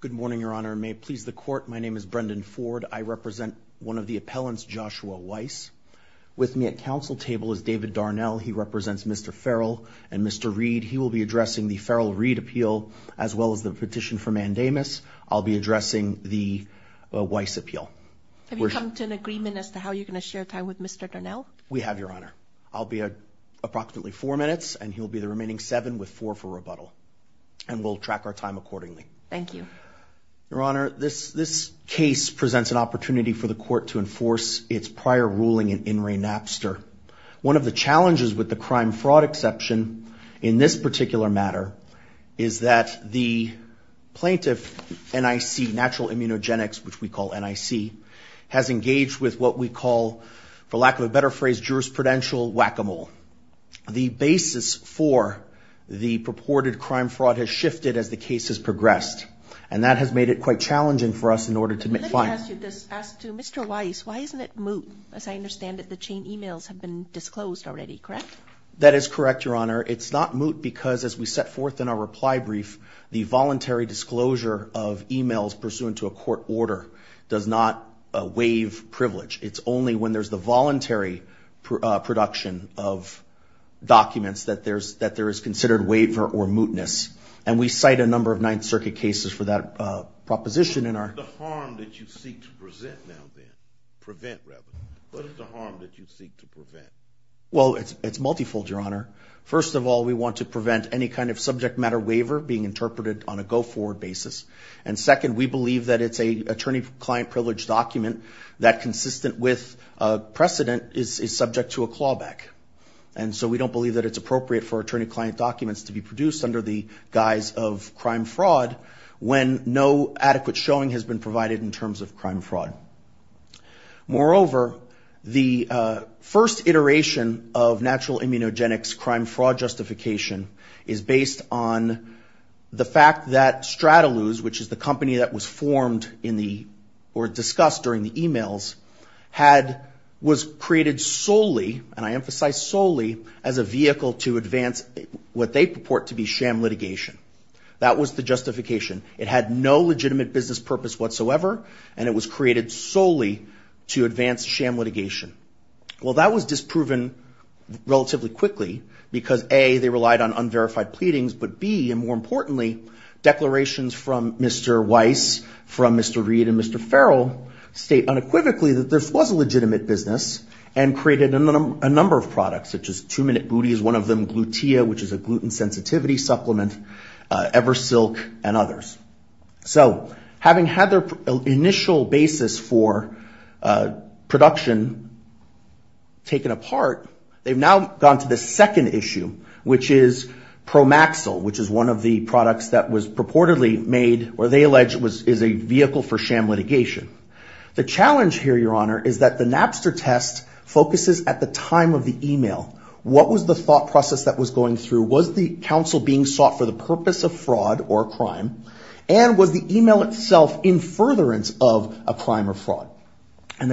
Good morning, Your Honor. May it please the Court, my name is Brendan Ford. I represent one of the appellants, Joshua Weiss. With me at council table is David Darnell. He represents Mr. Ferrell and Mr. Reed. He will be addressing the Ferrell-Reed appeal as well as the petition for mandamus. I'll be addressing the Weiss appeal. Have you come to an agreement as to how you're going to share time with Mr. Darnell? We have, Your Honor. I'll be approximately four minutes, and he'll be the remaining seven with four for rebuttal. And we'll track our time accordingly. Thank you. Your Honor, this case presents an opportunity for the Court to enforce its prior ruling in In re Napster. One of the challenges with the crime fraud exception in this particular matter is that the plaintiff, NIC, Natural Immunogenics, which we call NIC, has engaged with what we call, for lack of a better phrase, jurisprudential whack-a-mole. The basis for the purported crime fraud has shifted as the case has progressed, and that has made it quite challenging for us in order to make funds. Let me ask you this. Ask to Mr. Weiss, why isn't it moot, as I understand that the chain emails have been disclosed already, correct? That is correct, Your Honor. It's not moot because, as we set forth in our reply brief, the voluntary disclosure of emails pursuant to a court order does not waive privilege. It's only when there's the voluntary production of documents that there is considered waiver or mootness. And we cite a number of Ninth Circuit cases for that proposition in our... What is the harm that you seek to present now then? Prevent, rather. What is the harm that you seek to prevent? Well, it's multifold, Your Honor. First of all, we want to prevent any kind of subject matter waiver being interpreted on a go-forward basis. And second, we believe that it's an attorney-client privilege document that, consistent with precedent, is subject to a clawback. And so we don't believe that it's appropriate for attorney-client documents to be produced under the guise of crime-fraud when no adequate showing has been provided in terms of crime-fraud. Moreover, the first iteration of natural immunogenics crime-fraud justification is based on the fact that Strataluz, which is the company that was formed in the... or discussed during the e-mails, was created solely, and I emphasize solely, as a vehicle to advance what they purport to be sham litigation. That was the justification. It had no legitimate business purpose whatsoever, and it was created solely to advance sham litigation. Well, that was disproven relatively quickly because, A, they relied on unverified pleadings, but, B, and more importantly, declarations from Mr. Weiss, from Mr. Reed, and Mr. Farrell state unequivocally that this was a legitimate business and created a number of products, such as 2-Minute Booties, one of them Glutea, which is a gluten-sensitivity supplement, Eversilk, and others. So, having had their initial basis for production taken apart, they've now gone to the second issue, which is Promaxil, which is one of the products that was purportedly made, or they allege is a vehicle for sham litigation. The challenge here, Your Honor, is that the Napster test focuses at the time of the e-mail. What was the thought process that was going through? Was the counsel being sought for the purpose of fraud or crime? And the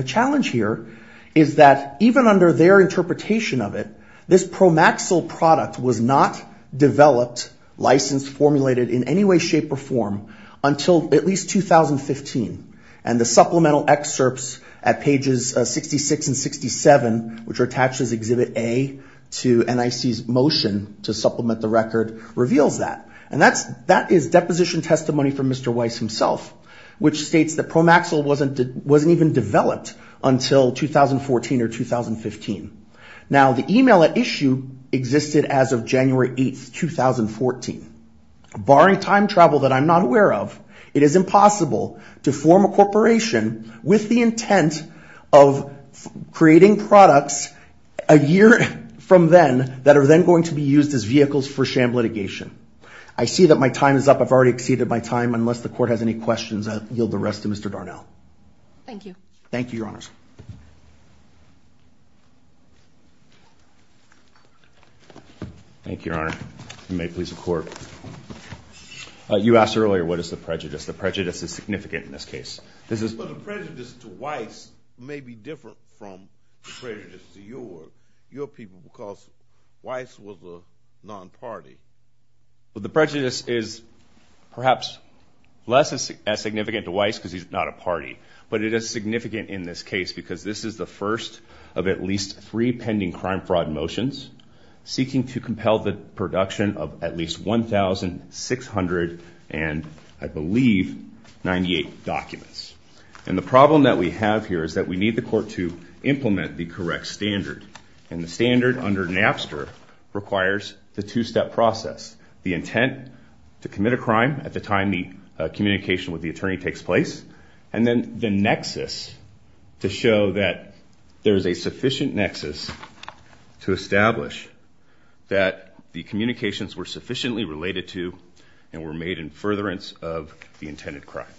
challenge here is that, even under their interpretation of it, this Promaxil product was not developed, licensed, formulated, in any way, shape, or form until at least 2015. And the supplemental excerpts at pages 66 and 67, which are attached as Exhibit A to NIC's motion to supplement the record, reveals that. And that is deposition testimony from Mr. Weiss himself, which states that Promaxil wasn't even developed until 2014 or 2015. Now, the e-mail at issue existed as of January 8, 2014. Barring time travel that I'm not aware of, it is impossible to form a corporation with the intent of creating products a year from then that are then going to be used as vehicles for sham litigation. I see that my time is up. I've already exceeded my time. Unless the court has any questions, I yield the rest to Mr. Darnell. Thank you. Thank you, Your Honors. Thank you, Your Honor. You may please report. You asked earlier, what is the prejudice? The prejudice is significant in this case. The prejudice to Weiss may be different from the prejudice to your people because Weiss was a non-party. The prejudice is perhaps less as significant to Weiss because he's not a party. But it is significant in this case because this is the first of at least three pending crime fraud motions seeking to compel the production of at least 1,698 documents. And the problem that we have here is that we need the court to implement the correct standard. And the standard under NAFSA requires the two-step process, the intent to commit a crime at the time the communication with the attorney takes place, and then the nexus to show that there is a sufficient nexus to establish that the communications were sufficiently related to and were made in furtherance of the intended crime.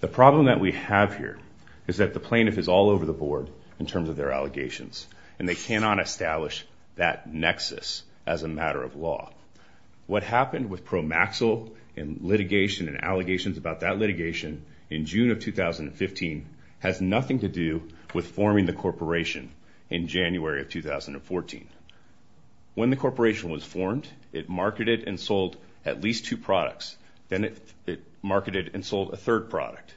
The problem that we have here is that the plaintiff is all over the board in terms of their allegations, and they cannot establish that nexus as a matter of law. What happened with Promaxil and litigation and allegations about that litigation in June of 2015 has nothing to do with forming the corporation in January of 2014. When the corporation was formed, it marketed and sold at least two products. Then it marketed and sold a third product.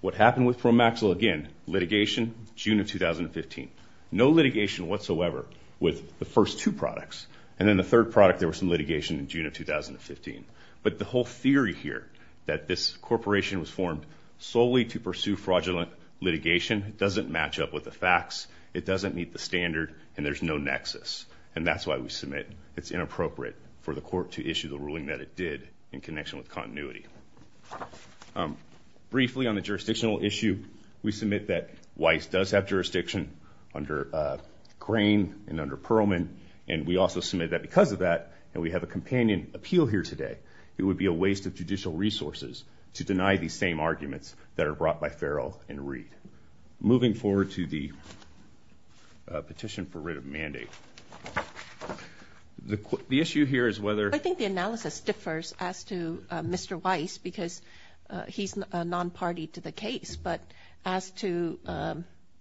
What happened with Promaxil, again, litigation, June of 2015. No litigation whatsoever with the first two products. And then the third product, there was some litigation in June of 2015. But the whole theory here that this corporation was formed solely to pursue fraudulent litigation doesn't match up with the facts. It doesn't meet the standard, and there's no nexus. And that's why we submit it's inappropriate for the court to issue the ruling that it did in connection with continuity. Briefly on the jurisdictional issue, we submit that Weiss does have jurisdiction under Grain and under Perlman, and we also submit that because of that, and we have a companion appeal here today, it would be a waste of judicial resources to deny these same arguments that are brought by Farrell and Reed. Moving forward to the petition for writ of mandate. The issue here is whether... Mr. Weiss, because he's a non-party to the case, but as to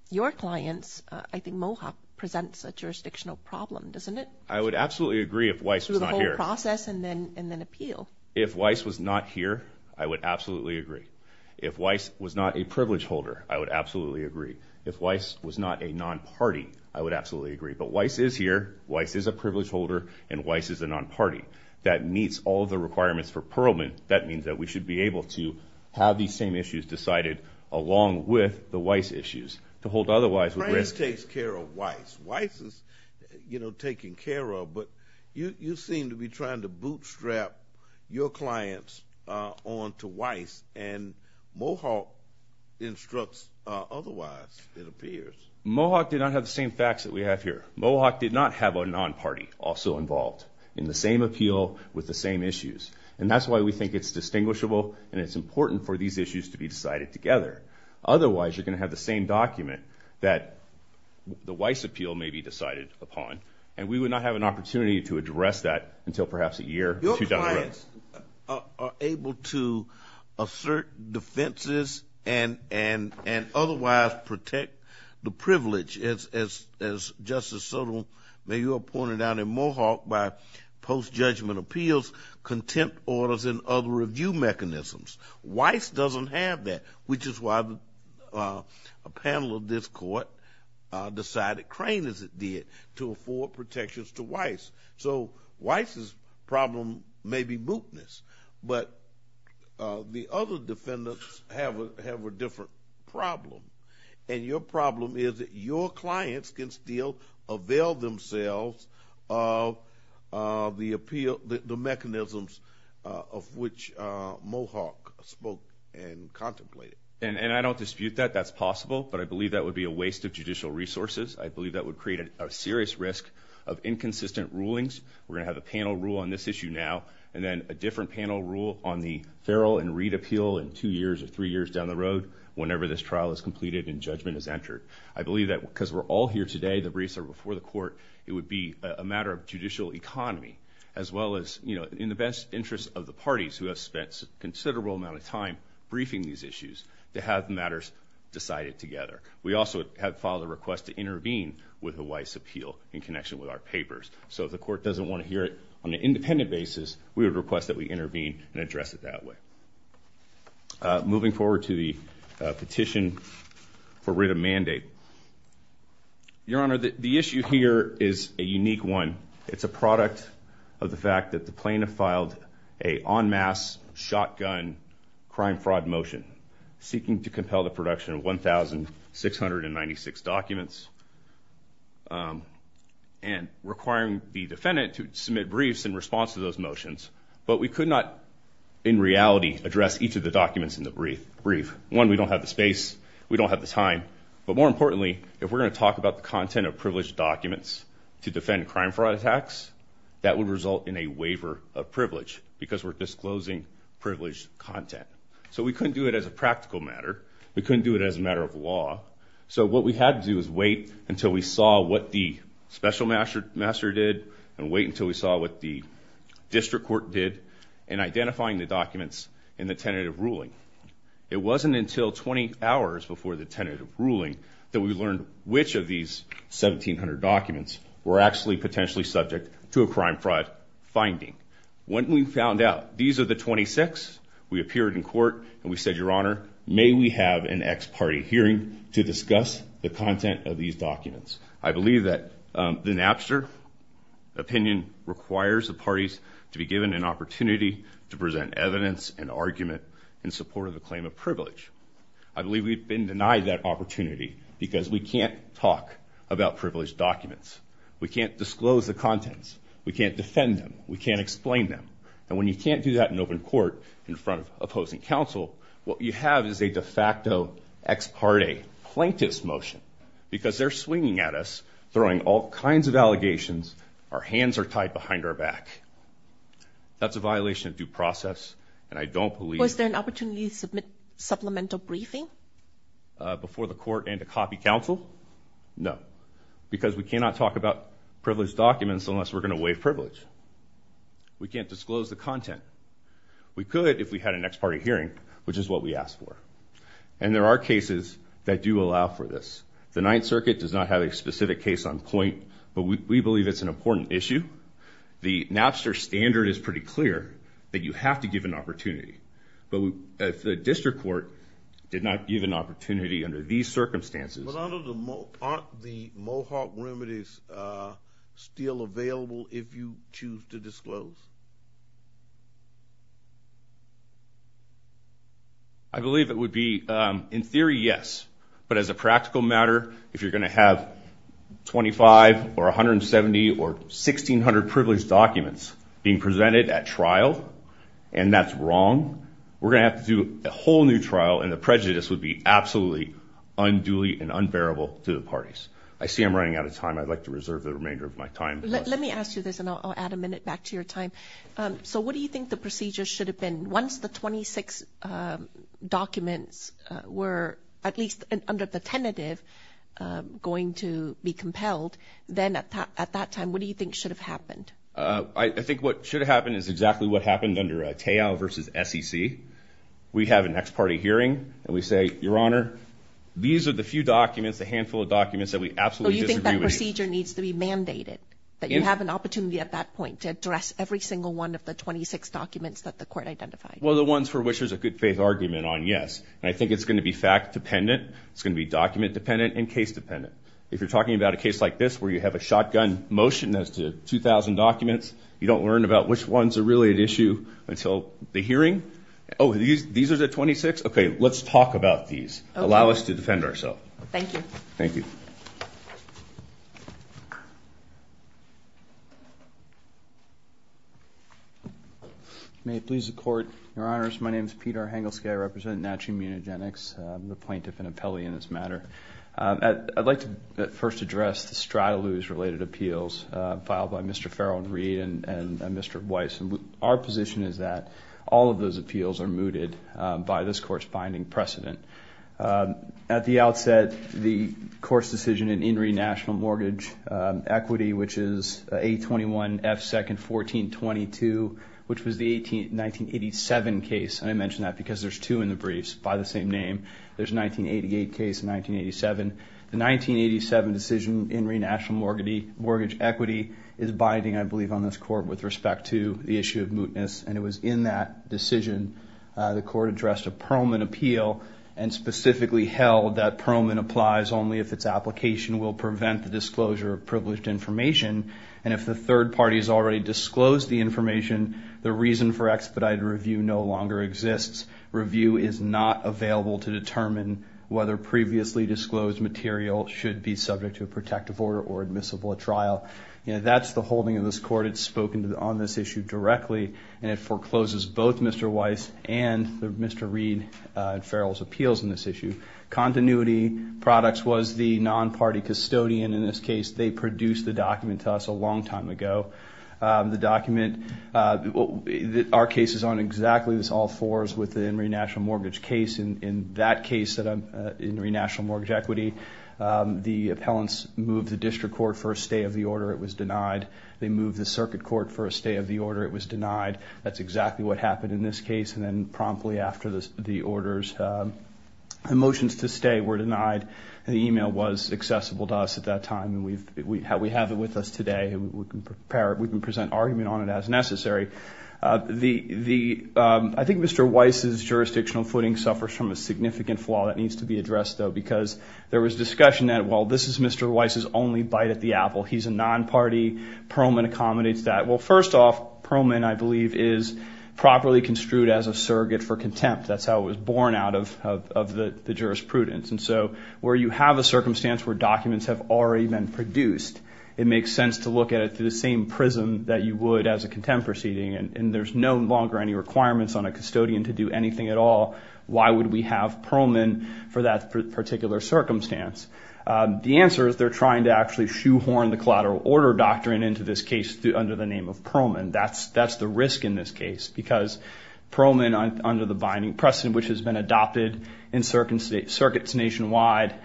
your clients, I think Mohawk presents a jurisdictional problem, doesn't it? I would absolutely agree if Weiss was not here. Through the whole process and then appeal. If Weiss was not here, I would absolutely agree. If Weiss was not a privilege holder, I would absolutely agree. If Weiss was not a non-party, I would absolutely agree. But Weiss is here, Weiss is a privilege holder, and Weiss is a non-party. That meets all of the requirements for Perlman. That means that we should be able to have these same issues decided along with the Weiss issues. To hold otherwise... France takes care of Weiss. Weiss is taken care of, but you seem to be trying to bootstrap your clients onto Weiss, and Mohawk instructs otherwise, it appears. Mohawk did not have the same facts that we have here. Mohawk did not have a non-party also involved. In the same appeal with the same issues. And that's why we think it's distinguishable and it's important for these issues to be decided together. Otherwise, you're going to have the same document that the Weiss appeal may be decided upon, and we would not have an opportunity to address that until perhaps a year or two down the road. Your clients are able to assert defenses and otherwise protect the privilege, as Justice Sotomayor pointed out in Mohawk, by post-judgment appeals, content orders, and other review mechanisms. Weiss doesn't have that, which is why a panel of this Court decided, crane as it did, to afford protections to Weiss. So Weiss's problem may be bootness, but the other defendants have a different problem. And your problem is that your clients can still avail themselves of the appeal, the mechanisms of which Mohawk spoke and contemplated. And I don't dispute that. That's possible. But I believe that would be a waste of judicial resources. I believe that would create a serious risk of inconsistent rulings. We're going to have a panel rule on this issue now, and then a different panel rule on the Farrell and Reid appeal in two years or three years down the road, whenever this trial is completed and judgment is entered. I believe that because we're all here today, the briefs are before the Court, it would be a matter of judicial economy, as well as in the best interest of the parties who have spent a considerable amount of time briefing these issues, to have matters decided together. We also have filed a request to intervene with a Weiss appeal in connection with our papers. So if the Court doesn't want to hear it on an independent basis, we would request that we intervene and address it that way. Moving forward to the petition for writ of mandate. Your Honor, the issue here is a unique one. It's a product of the fact that the plaintiff filed an en masse shotgun crime-fraud motion seeking to compel the production of 1,696 documents and requiring the defendant to submit briefs in response to those motions. But we could not, in reality, address each of the documents in the brief. One, we don't have the space. We don't have the time. But more importantly, if we're going to talk about the content of privileged documents to defend crime-fraud attacks, that would result in a waiver of privilege because we're disclosing privileged content. So we couldn't do it as a practical matter. We couldn't do it as a matter of law. So what we had to do was wait until we saw what the special master did and wait until we saw what the district court did in identifying the documents in the tentative ruling. It wasn't until 20 hours before the tentative ruling that we learned which of these 1,700 documents were actually potentially subject to a crime-fraud finding. When we found out these are the 26, we appeared in court and we said, Your Honor, may we have an ex-party hearing to discuss the content of these documents? I believe that the Napster opinion requires the parties to be given an opportunity to present evidence and argument in support of the claim of privilege. I believe we've been denied that opportunity because we can't talk about privileged documents. We can't disclose the contents. We can't defend them. We can't explain them. And when you can't do that in open court in front of opposing counsel, what you have is a de facto ex-party plaintiff's motion because they're swinging at us, throwing all kinds of allegations. Our hands are tied behind our back. That's a violation of due process, and I don't believe... Was there an opportunity to submit supplemental briefing? Before the court and to copy counsel? No, because we cannot talk about privileged documents unless we're going to waive privilege. We can't disclose the content. We could if we had an ex-party hearing, which is what we asked for. And there are cases that do allow for this. The Ninth Circuit does not have a specific case on point, but we believe it's an important issue. The Napster standard is pretty clear that you have to give an opportunity. But the district court did not give an opportunity under these circumstances. But aren't the Mohawk remedies still available if you choose to disclose? I believe it would be, in theory, yes. But as a practical matter, if you're going to have 25 or 170 or 1,600 privileged documents being presented at trial, and that's wrong, we're going to have to do a whole new trial, and the prejudice would be absolutely unduly and unbearable to the parties. I see I'm running out of time. I'd like to reserve the remainder of my time. Let me ask you this, and I'll add a minute back to your time. So what do you think the procedure should have been once the 26 documents were, at least under the tentative, going to be compelled? Then at that time, what do you think should have happened? I think what should have happened is exactly what happened under a Teo v. SEC. We have a next-party hearing, and we say, Your Honor, these are the few documents, the handful of documents that we absolutely disagree with. So you think that procedure needs to be mandated, that you have an opportunity at that point to address every single one of the 26 documents that the court identified? Well, the ones for which there's a good-faith argument on, yes. And I think it's going to be fact-dependent, it's going to be document-dependent, and case-dependent. If you're talking about a case like this where you have a shotgun motion as to 2,000 documents, you don't learn about which ones are really at issue until the hearing. Oh, these are the 26? Okay, let's talk about these. Allow us to defend ourselves. Thank you. Thank you. May it please the Court. Your Honors, my name is Peter Hangelske. I represent Natural Immunogenics. I'm the plaintiff and appellee in this matter. I'd like to first address the Stradlews-related appeals filed by Mr. Farrell and Reid and Mr. Weiss. Our position is that all of those appeals are mooted by this Court's binding precedent. At the outset, the Court's decision in In Re National Mortgage Equity, which is 821 F 2nd 1422, which was the 1987 case, and I mention that because there's two in the briefs by the same name. There's a 1988 case and 1987. The 1987 decision in In Re National Mortgage Equity is binding, I believe, on this Court with respect to the issue of mootness, and it was in that decision the Court addressed a Perlman appeal and specifically held that Perlman applies only if its application will prevent the disclosure of privileged information, and if the third party has already disclosed the information, the reason for expedited review no longer exists. Review is not available to determine whether previously disclosed material should be subject to a protective order or admissible at trial. That's the holding of this Court. It's spoken on this issue directly, and it forecloses both Mr. Weiss and Mr. Reid and Farrell's appeals in this issue. Continuity Products was the non-party custodian in this case. They produced the document to us a long time ago. The document... Our case is on exactly this, all fours, with the In Re National Mortgage case. In that case, In Re National Mortgage Equity, the appellants moved the district court for a stay of the order. It was denied. They moved the circuit court for a stay of the order. It was denied. That's exactly what happened in this case, and then promptly after the orders, the motions to stay were denied, and the email was accessible to us at that time, and we have it with us today. We can present argument on it as necessary. I think Mr. Weiss's jurisdictional footing suffers from a significant flaw that needs to be addressed, though, because there was discussion that, well, this is Mr. Weiss's only bite at the apple. He's a non-party. Perlman accommodates that. Well, first off, Perlman, I believe, is properly construed as a surrogate for contempt. That's how it was born out of the jurisprudence, and so where you have a circumstance where documents have already been produced, it makes sense to look at it through the same prism that you would as a contempt proceeding, and there's no longer any requirements on a custodian to do anything at all. Why would we have Perlman for that particular circumstance? The answer is they're trying to actually shoehorn the collateral order doctrine into this case under the name of Perlman. That's the risk in this case because Perlman, under the binding precedent which has been adopted in circuits nationwide,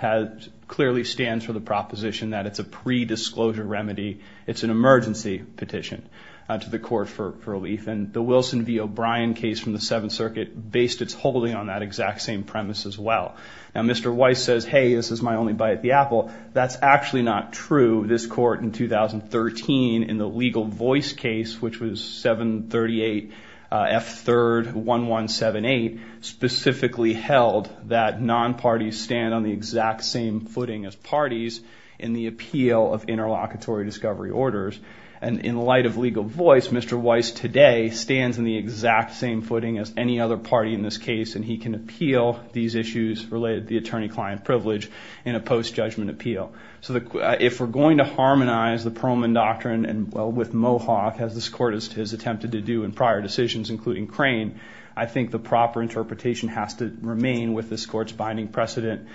clearly stands for the proposition that it's a pre-disclosure remedy. It's an emergency petition to the court for relief, and the Wilson v. O'Brien case from the Seventh Circuit based its holding on that exact same premise as well. Now, Mr. Weiss says, hey, this is my only bite at the apple. That's actually not true. This court in 2013, in the legal voice case, which was 738 F3rd 1178, specifically held that non-parties stand on the exact same footing as parties in the appeal of interlocutory discovery orders. And in light of legal voice, Mr. Weiss today stands on the exact same footing as any other party in this case, and he can appeal these issues related to the attorney-client privilege in a post-judgment appeal. So if we're going to harmonize the Perlman doctrine with Mohawk, as this court has attempted to do in prior decisions, including Crane, I think the proper interpretation has to remain with this court's binding precedent,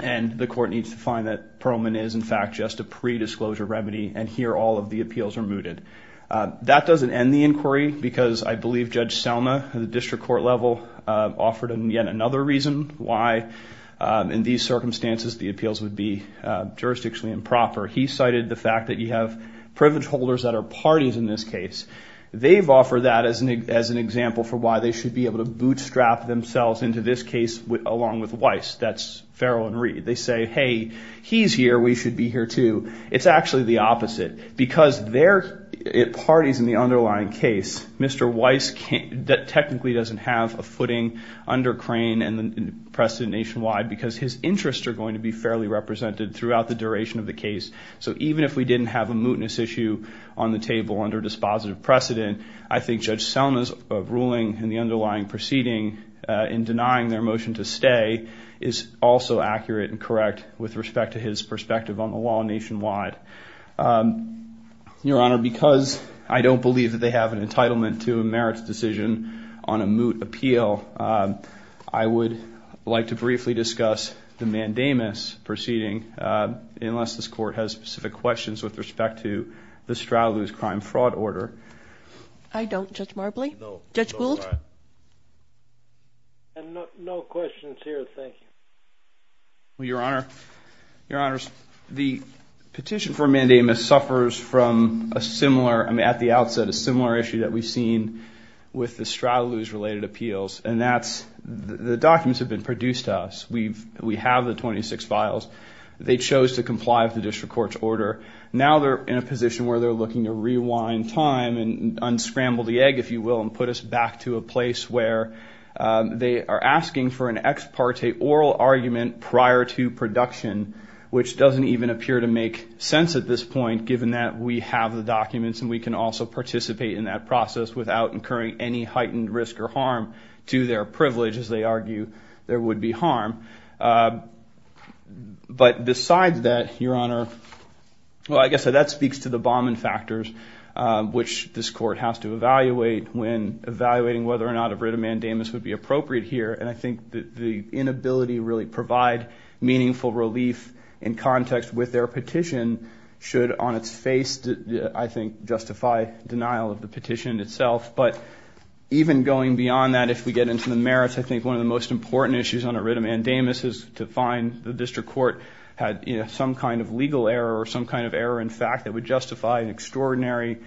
and the court needs to find that Perlman is, in fact, just a predisclosure remedy, and here all of the appeals are mooted. That doesn't end the inquiry, because I believe Judge Selma, at the district court level, offered yet another reason why, in these circumstances, the appeals would be jurisdictionally improper. He cited the fact that you have privilege holders that are parties in this case. They've offered that as an example for why they should be able to bootstrap themselves into this case along with Weiss. That's Farrell and Reed. They say, hey, he's here. We should be here, too. It's actually the opposite, because they're parties in the underlying case. Mr. Weiss technically doesn't have a footing under Crane and the precedent nationwide because his interests are going to be fairly represented throughout the duration of the case. So even if we didn't have a mootness issue on the table under dispositive precedent, I think Judge Selma's ruling in the underlying proceeding in denying their motion to stay is also accurate and correct with respect to his perspective on the law nationwide. Your Honor, because I don't believe that they have an entitlement to a merits decision on a moot appeal, I would like to briefly discuss the mandamus proceeding, unless this court has specific questions with respect to the Strahlews crime fraud order. I don't, Judge Marbley. Judge Gould? No questions here, thank you. Your Honor, the petition for a mandamus suffers from a similar, at the outset, a similar issue that we've seen with the Strahlews-related appeals, and that's the documents have been produced to us. We have the 26 files. They chose to comply with the district court's order. Now they're in a position where they're looking to rewind time and unscramble the egg, if you will, and put us back to a place where they are asking for an ex parte oral argument prior to production, which doesn't even appear to make sense at this point, given that we have the documents and we can also participate in that process without incurring any heightened risk or harm to their privilege, as they argue there would be harm. But besides that, Your Honor, well, I guess that speaks to the Bauman factors, which this court has to evaluate when evaluating whether or not a writ of mandamus would be appropriate here, and I think the inability to really provide meaningful relief in context with their petition should, on its face, I think, justify denial of the petition itself. But even going beyond that, if we get into the merits, I think one of the most important issues on a writ of mandamus is to find the district court had some kind of legal error or some kind of error in fact that would justify an extraordinary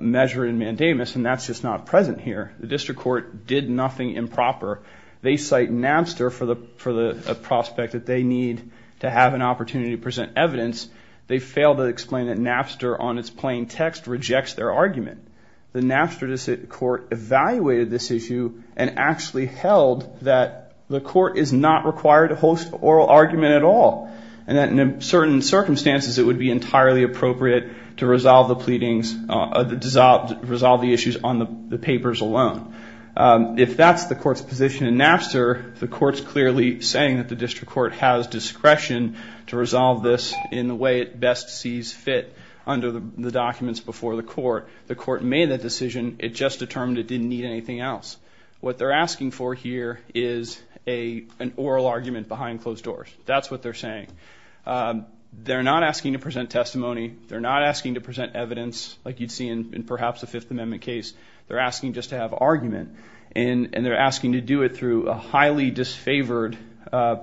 measure in mandamus, and that's just not present here. The district court did nothing improper. They cite Napster for the prospect that they need to have an opportunity to present evidence. They failed to explain that Napster, on its plain text, rejects their argument. The Napster court evaluated this issue and actually held that the court is not required to host an oral argument at all and that in certain circumstances it would be entirely appropriate to resolve the pleadings, resolve the issues on the papers alone. If that's the court's position in Napster, the court's clearly saying that the district court has discretion to resolve this in the way it best sees fit under the documents before the court. The court made that decision. It just determined it didn't need anything else. What they're asking for here is an oral argument behind closed doors. That's what they're saying. They're not asking to present testimony. They're not asking to present evidence like you'd see in perhaps a Fifth Amendment case. They're asking just to have argument, and they're asking to do it through a highly disfavored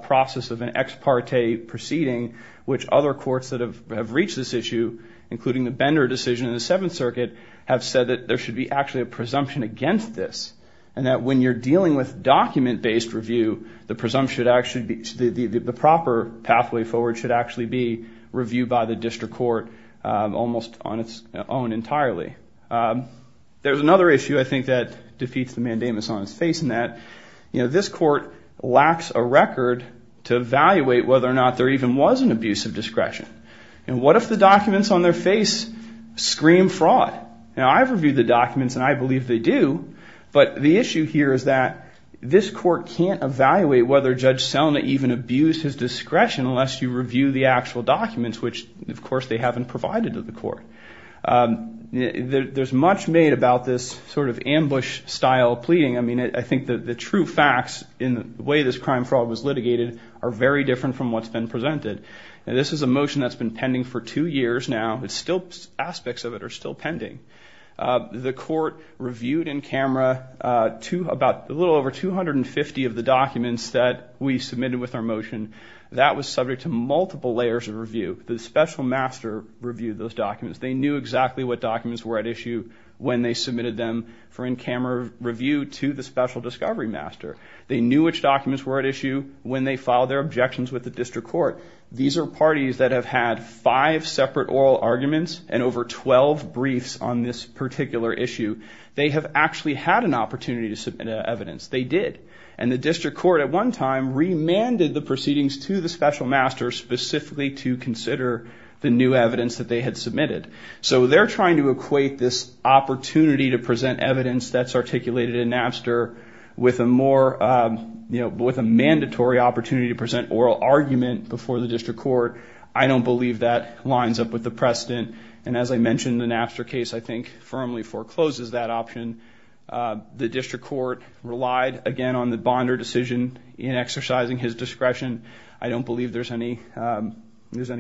process of an ex parte proceeding, which other courts that have reached this issue, including the Bender decision in the Seventh Circuit, have said that there should be actually a presumption against this and that when you're dealing with document-based review, the proper pathway forward should actually be reviewed by the district court almost on its own entirely. There's another issue, I think, that defeats the mandamus on its face in that this court lacks a record to evaluate whether or not there even was an abuse of discretion. What if the documents on their face scream fraud? Now, I've reviewed the documents, and I believe they do, but the issue here is that this court can't evaluate whether Judge Selna even abused his discretion unless you review the actual documents, which, of course, they haven't provided to the court. There's much made about this sort of ambush-style pleading. I mean, I think the true facts in the way this crime fraud was litigated are very different from what's been presented. This is a motion that's been pending for two years now. Aspects of it are still pending. The court reviewed in camera a little over 250 of the documents that we submitted with our motion. That was subject to multiple layers of review. The special master reviewed those documents. They knew exactly what documents were at issue when they submitted them for in-camera review to the special discovery master. They knew which documents were at issue when they filed their objections with the district court. These are parties that have had five separate oral arguments and over 12 briefs on this particular issue. They have actually had an opportunity to submit evidence. They did. And the district court at one time remanded the proceedings to the special master specifically to consider the new evidence that they had submitted. So they're trying to equate this opportunity to present evidence that's articulated in Napster with a mandatory opportunity to present oral argument before the district court. I don't believe that lines up with the precedent. And as I mentioned, the Napster case, I think, firmly forecloses that option. The district court relied, again, on the bonder decision in exercising his discretion. I don't believe there's any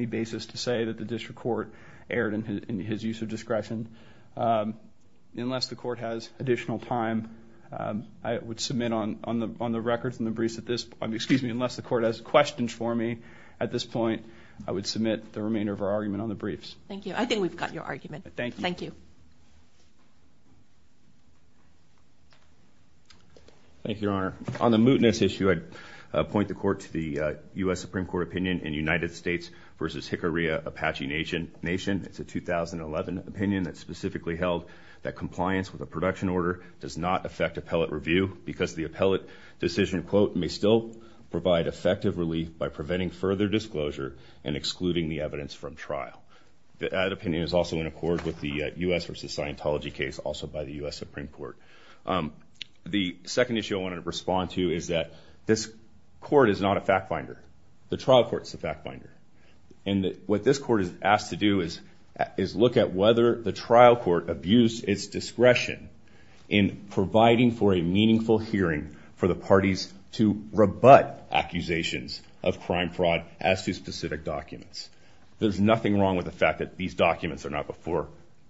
basis to say that the district court erred in his use of discretion. Unless the court has additional time, I would submit on the records and the briefs at this point, unless the court has questions for me at this point, I would submit the remainder of our argument on the briefs. Thank you. I think we've got your argument. Thank you. Thank you, Your Honor. On the mootness issue, I'd point the court to the U.S. Supreme Court opinion in United States v. Hickory Apache Nation. It's a 2011 opinion that specifically held that compliance with a production order does not affect appellate review because the appellate decision, quote, may still provide effective relief by preventing further disclosure and excluding the evidence from trial. That opinion is also in accord with the U.S. v. Scientology case, also by the U.S. Supreme Court. The second issue I want to respond to is that this court is not a fact-finder. The trial court is a fact-finder. And what this court is asked to do is look at whether the trial court abused its discretion in providing for a meaningful hearing for the parties to rebut accusations of crime fraud as to specific documents. There's nothing wrong with the fact that these documents are not before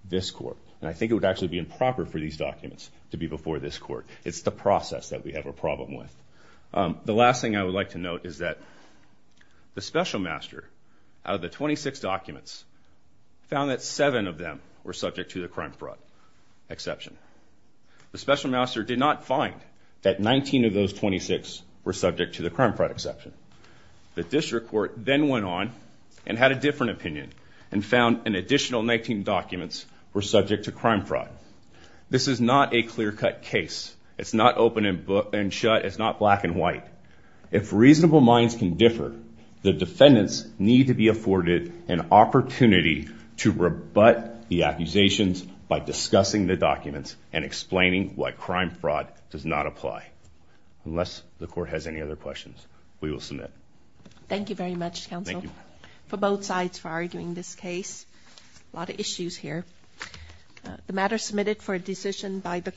this court. And I think it would actually be improper for these documents to be before this court. It's the process that we have a problem with. The last thing I would like to note is that the special master, out of the 26 documents, found that seven of them were subject to the crime fraud exception. The special master did not find that 19 of those 26 were subject to the crime fraud exception. The district court then went on and had a different opinion and found an additional 19 documents were subject to crime fraud. This is not a clear-cut case. It's not open and shut. It's not black and white. If reasonable minds can differ, the defendants need to be afforded an opportunity to rebut the accusations by discussing the documents and explaining why crime fraud does not apply. Unless the court has any other questions, we will submit. Thank you very much, Counsel. Thank you. For both sides for arguing this case. A lot of issues here. The matter submitted for a decision by the...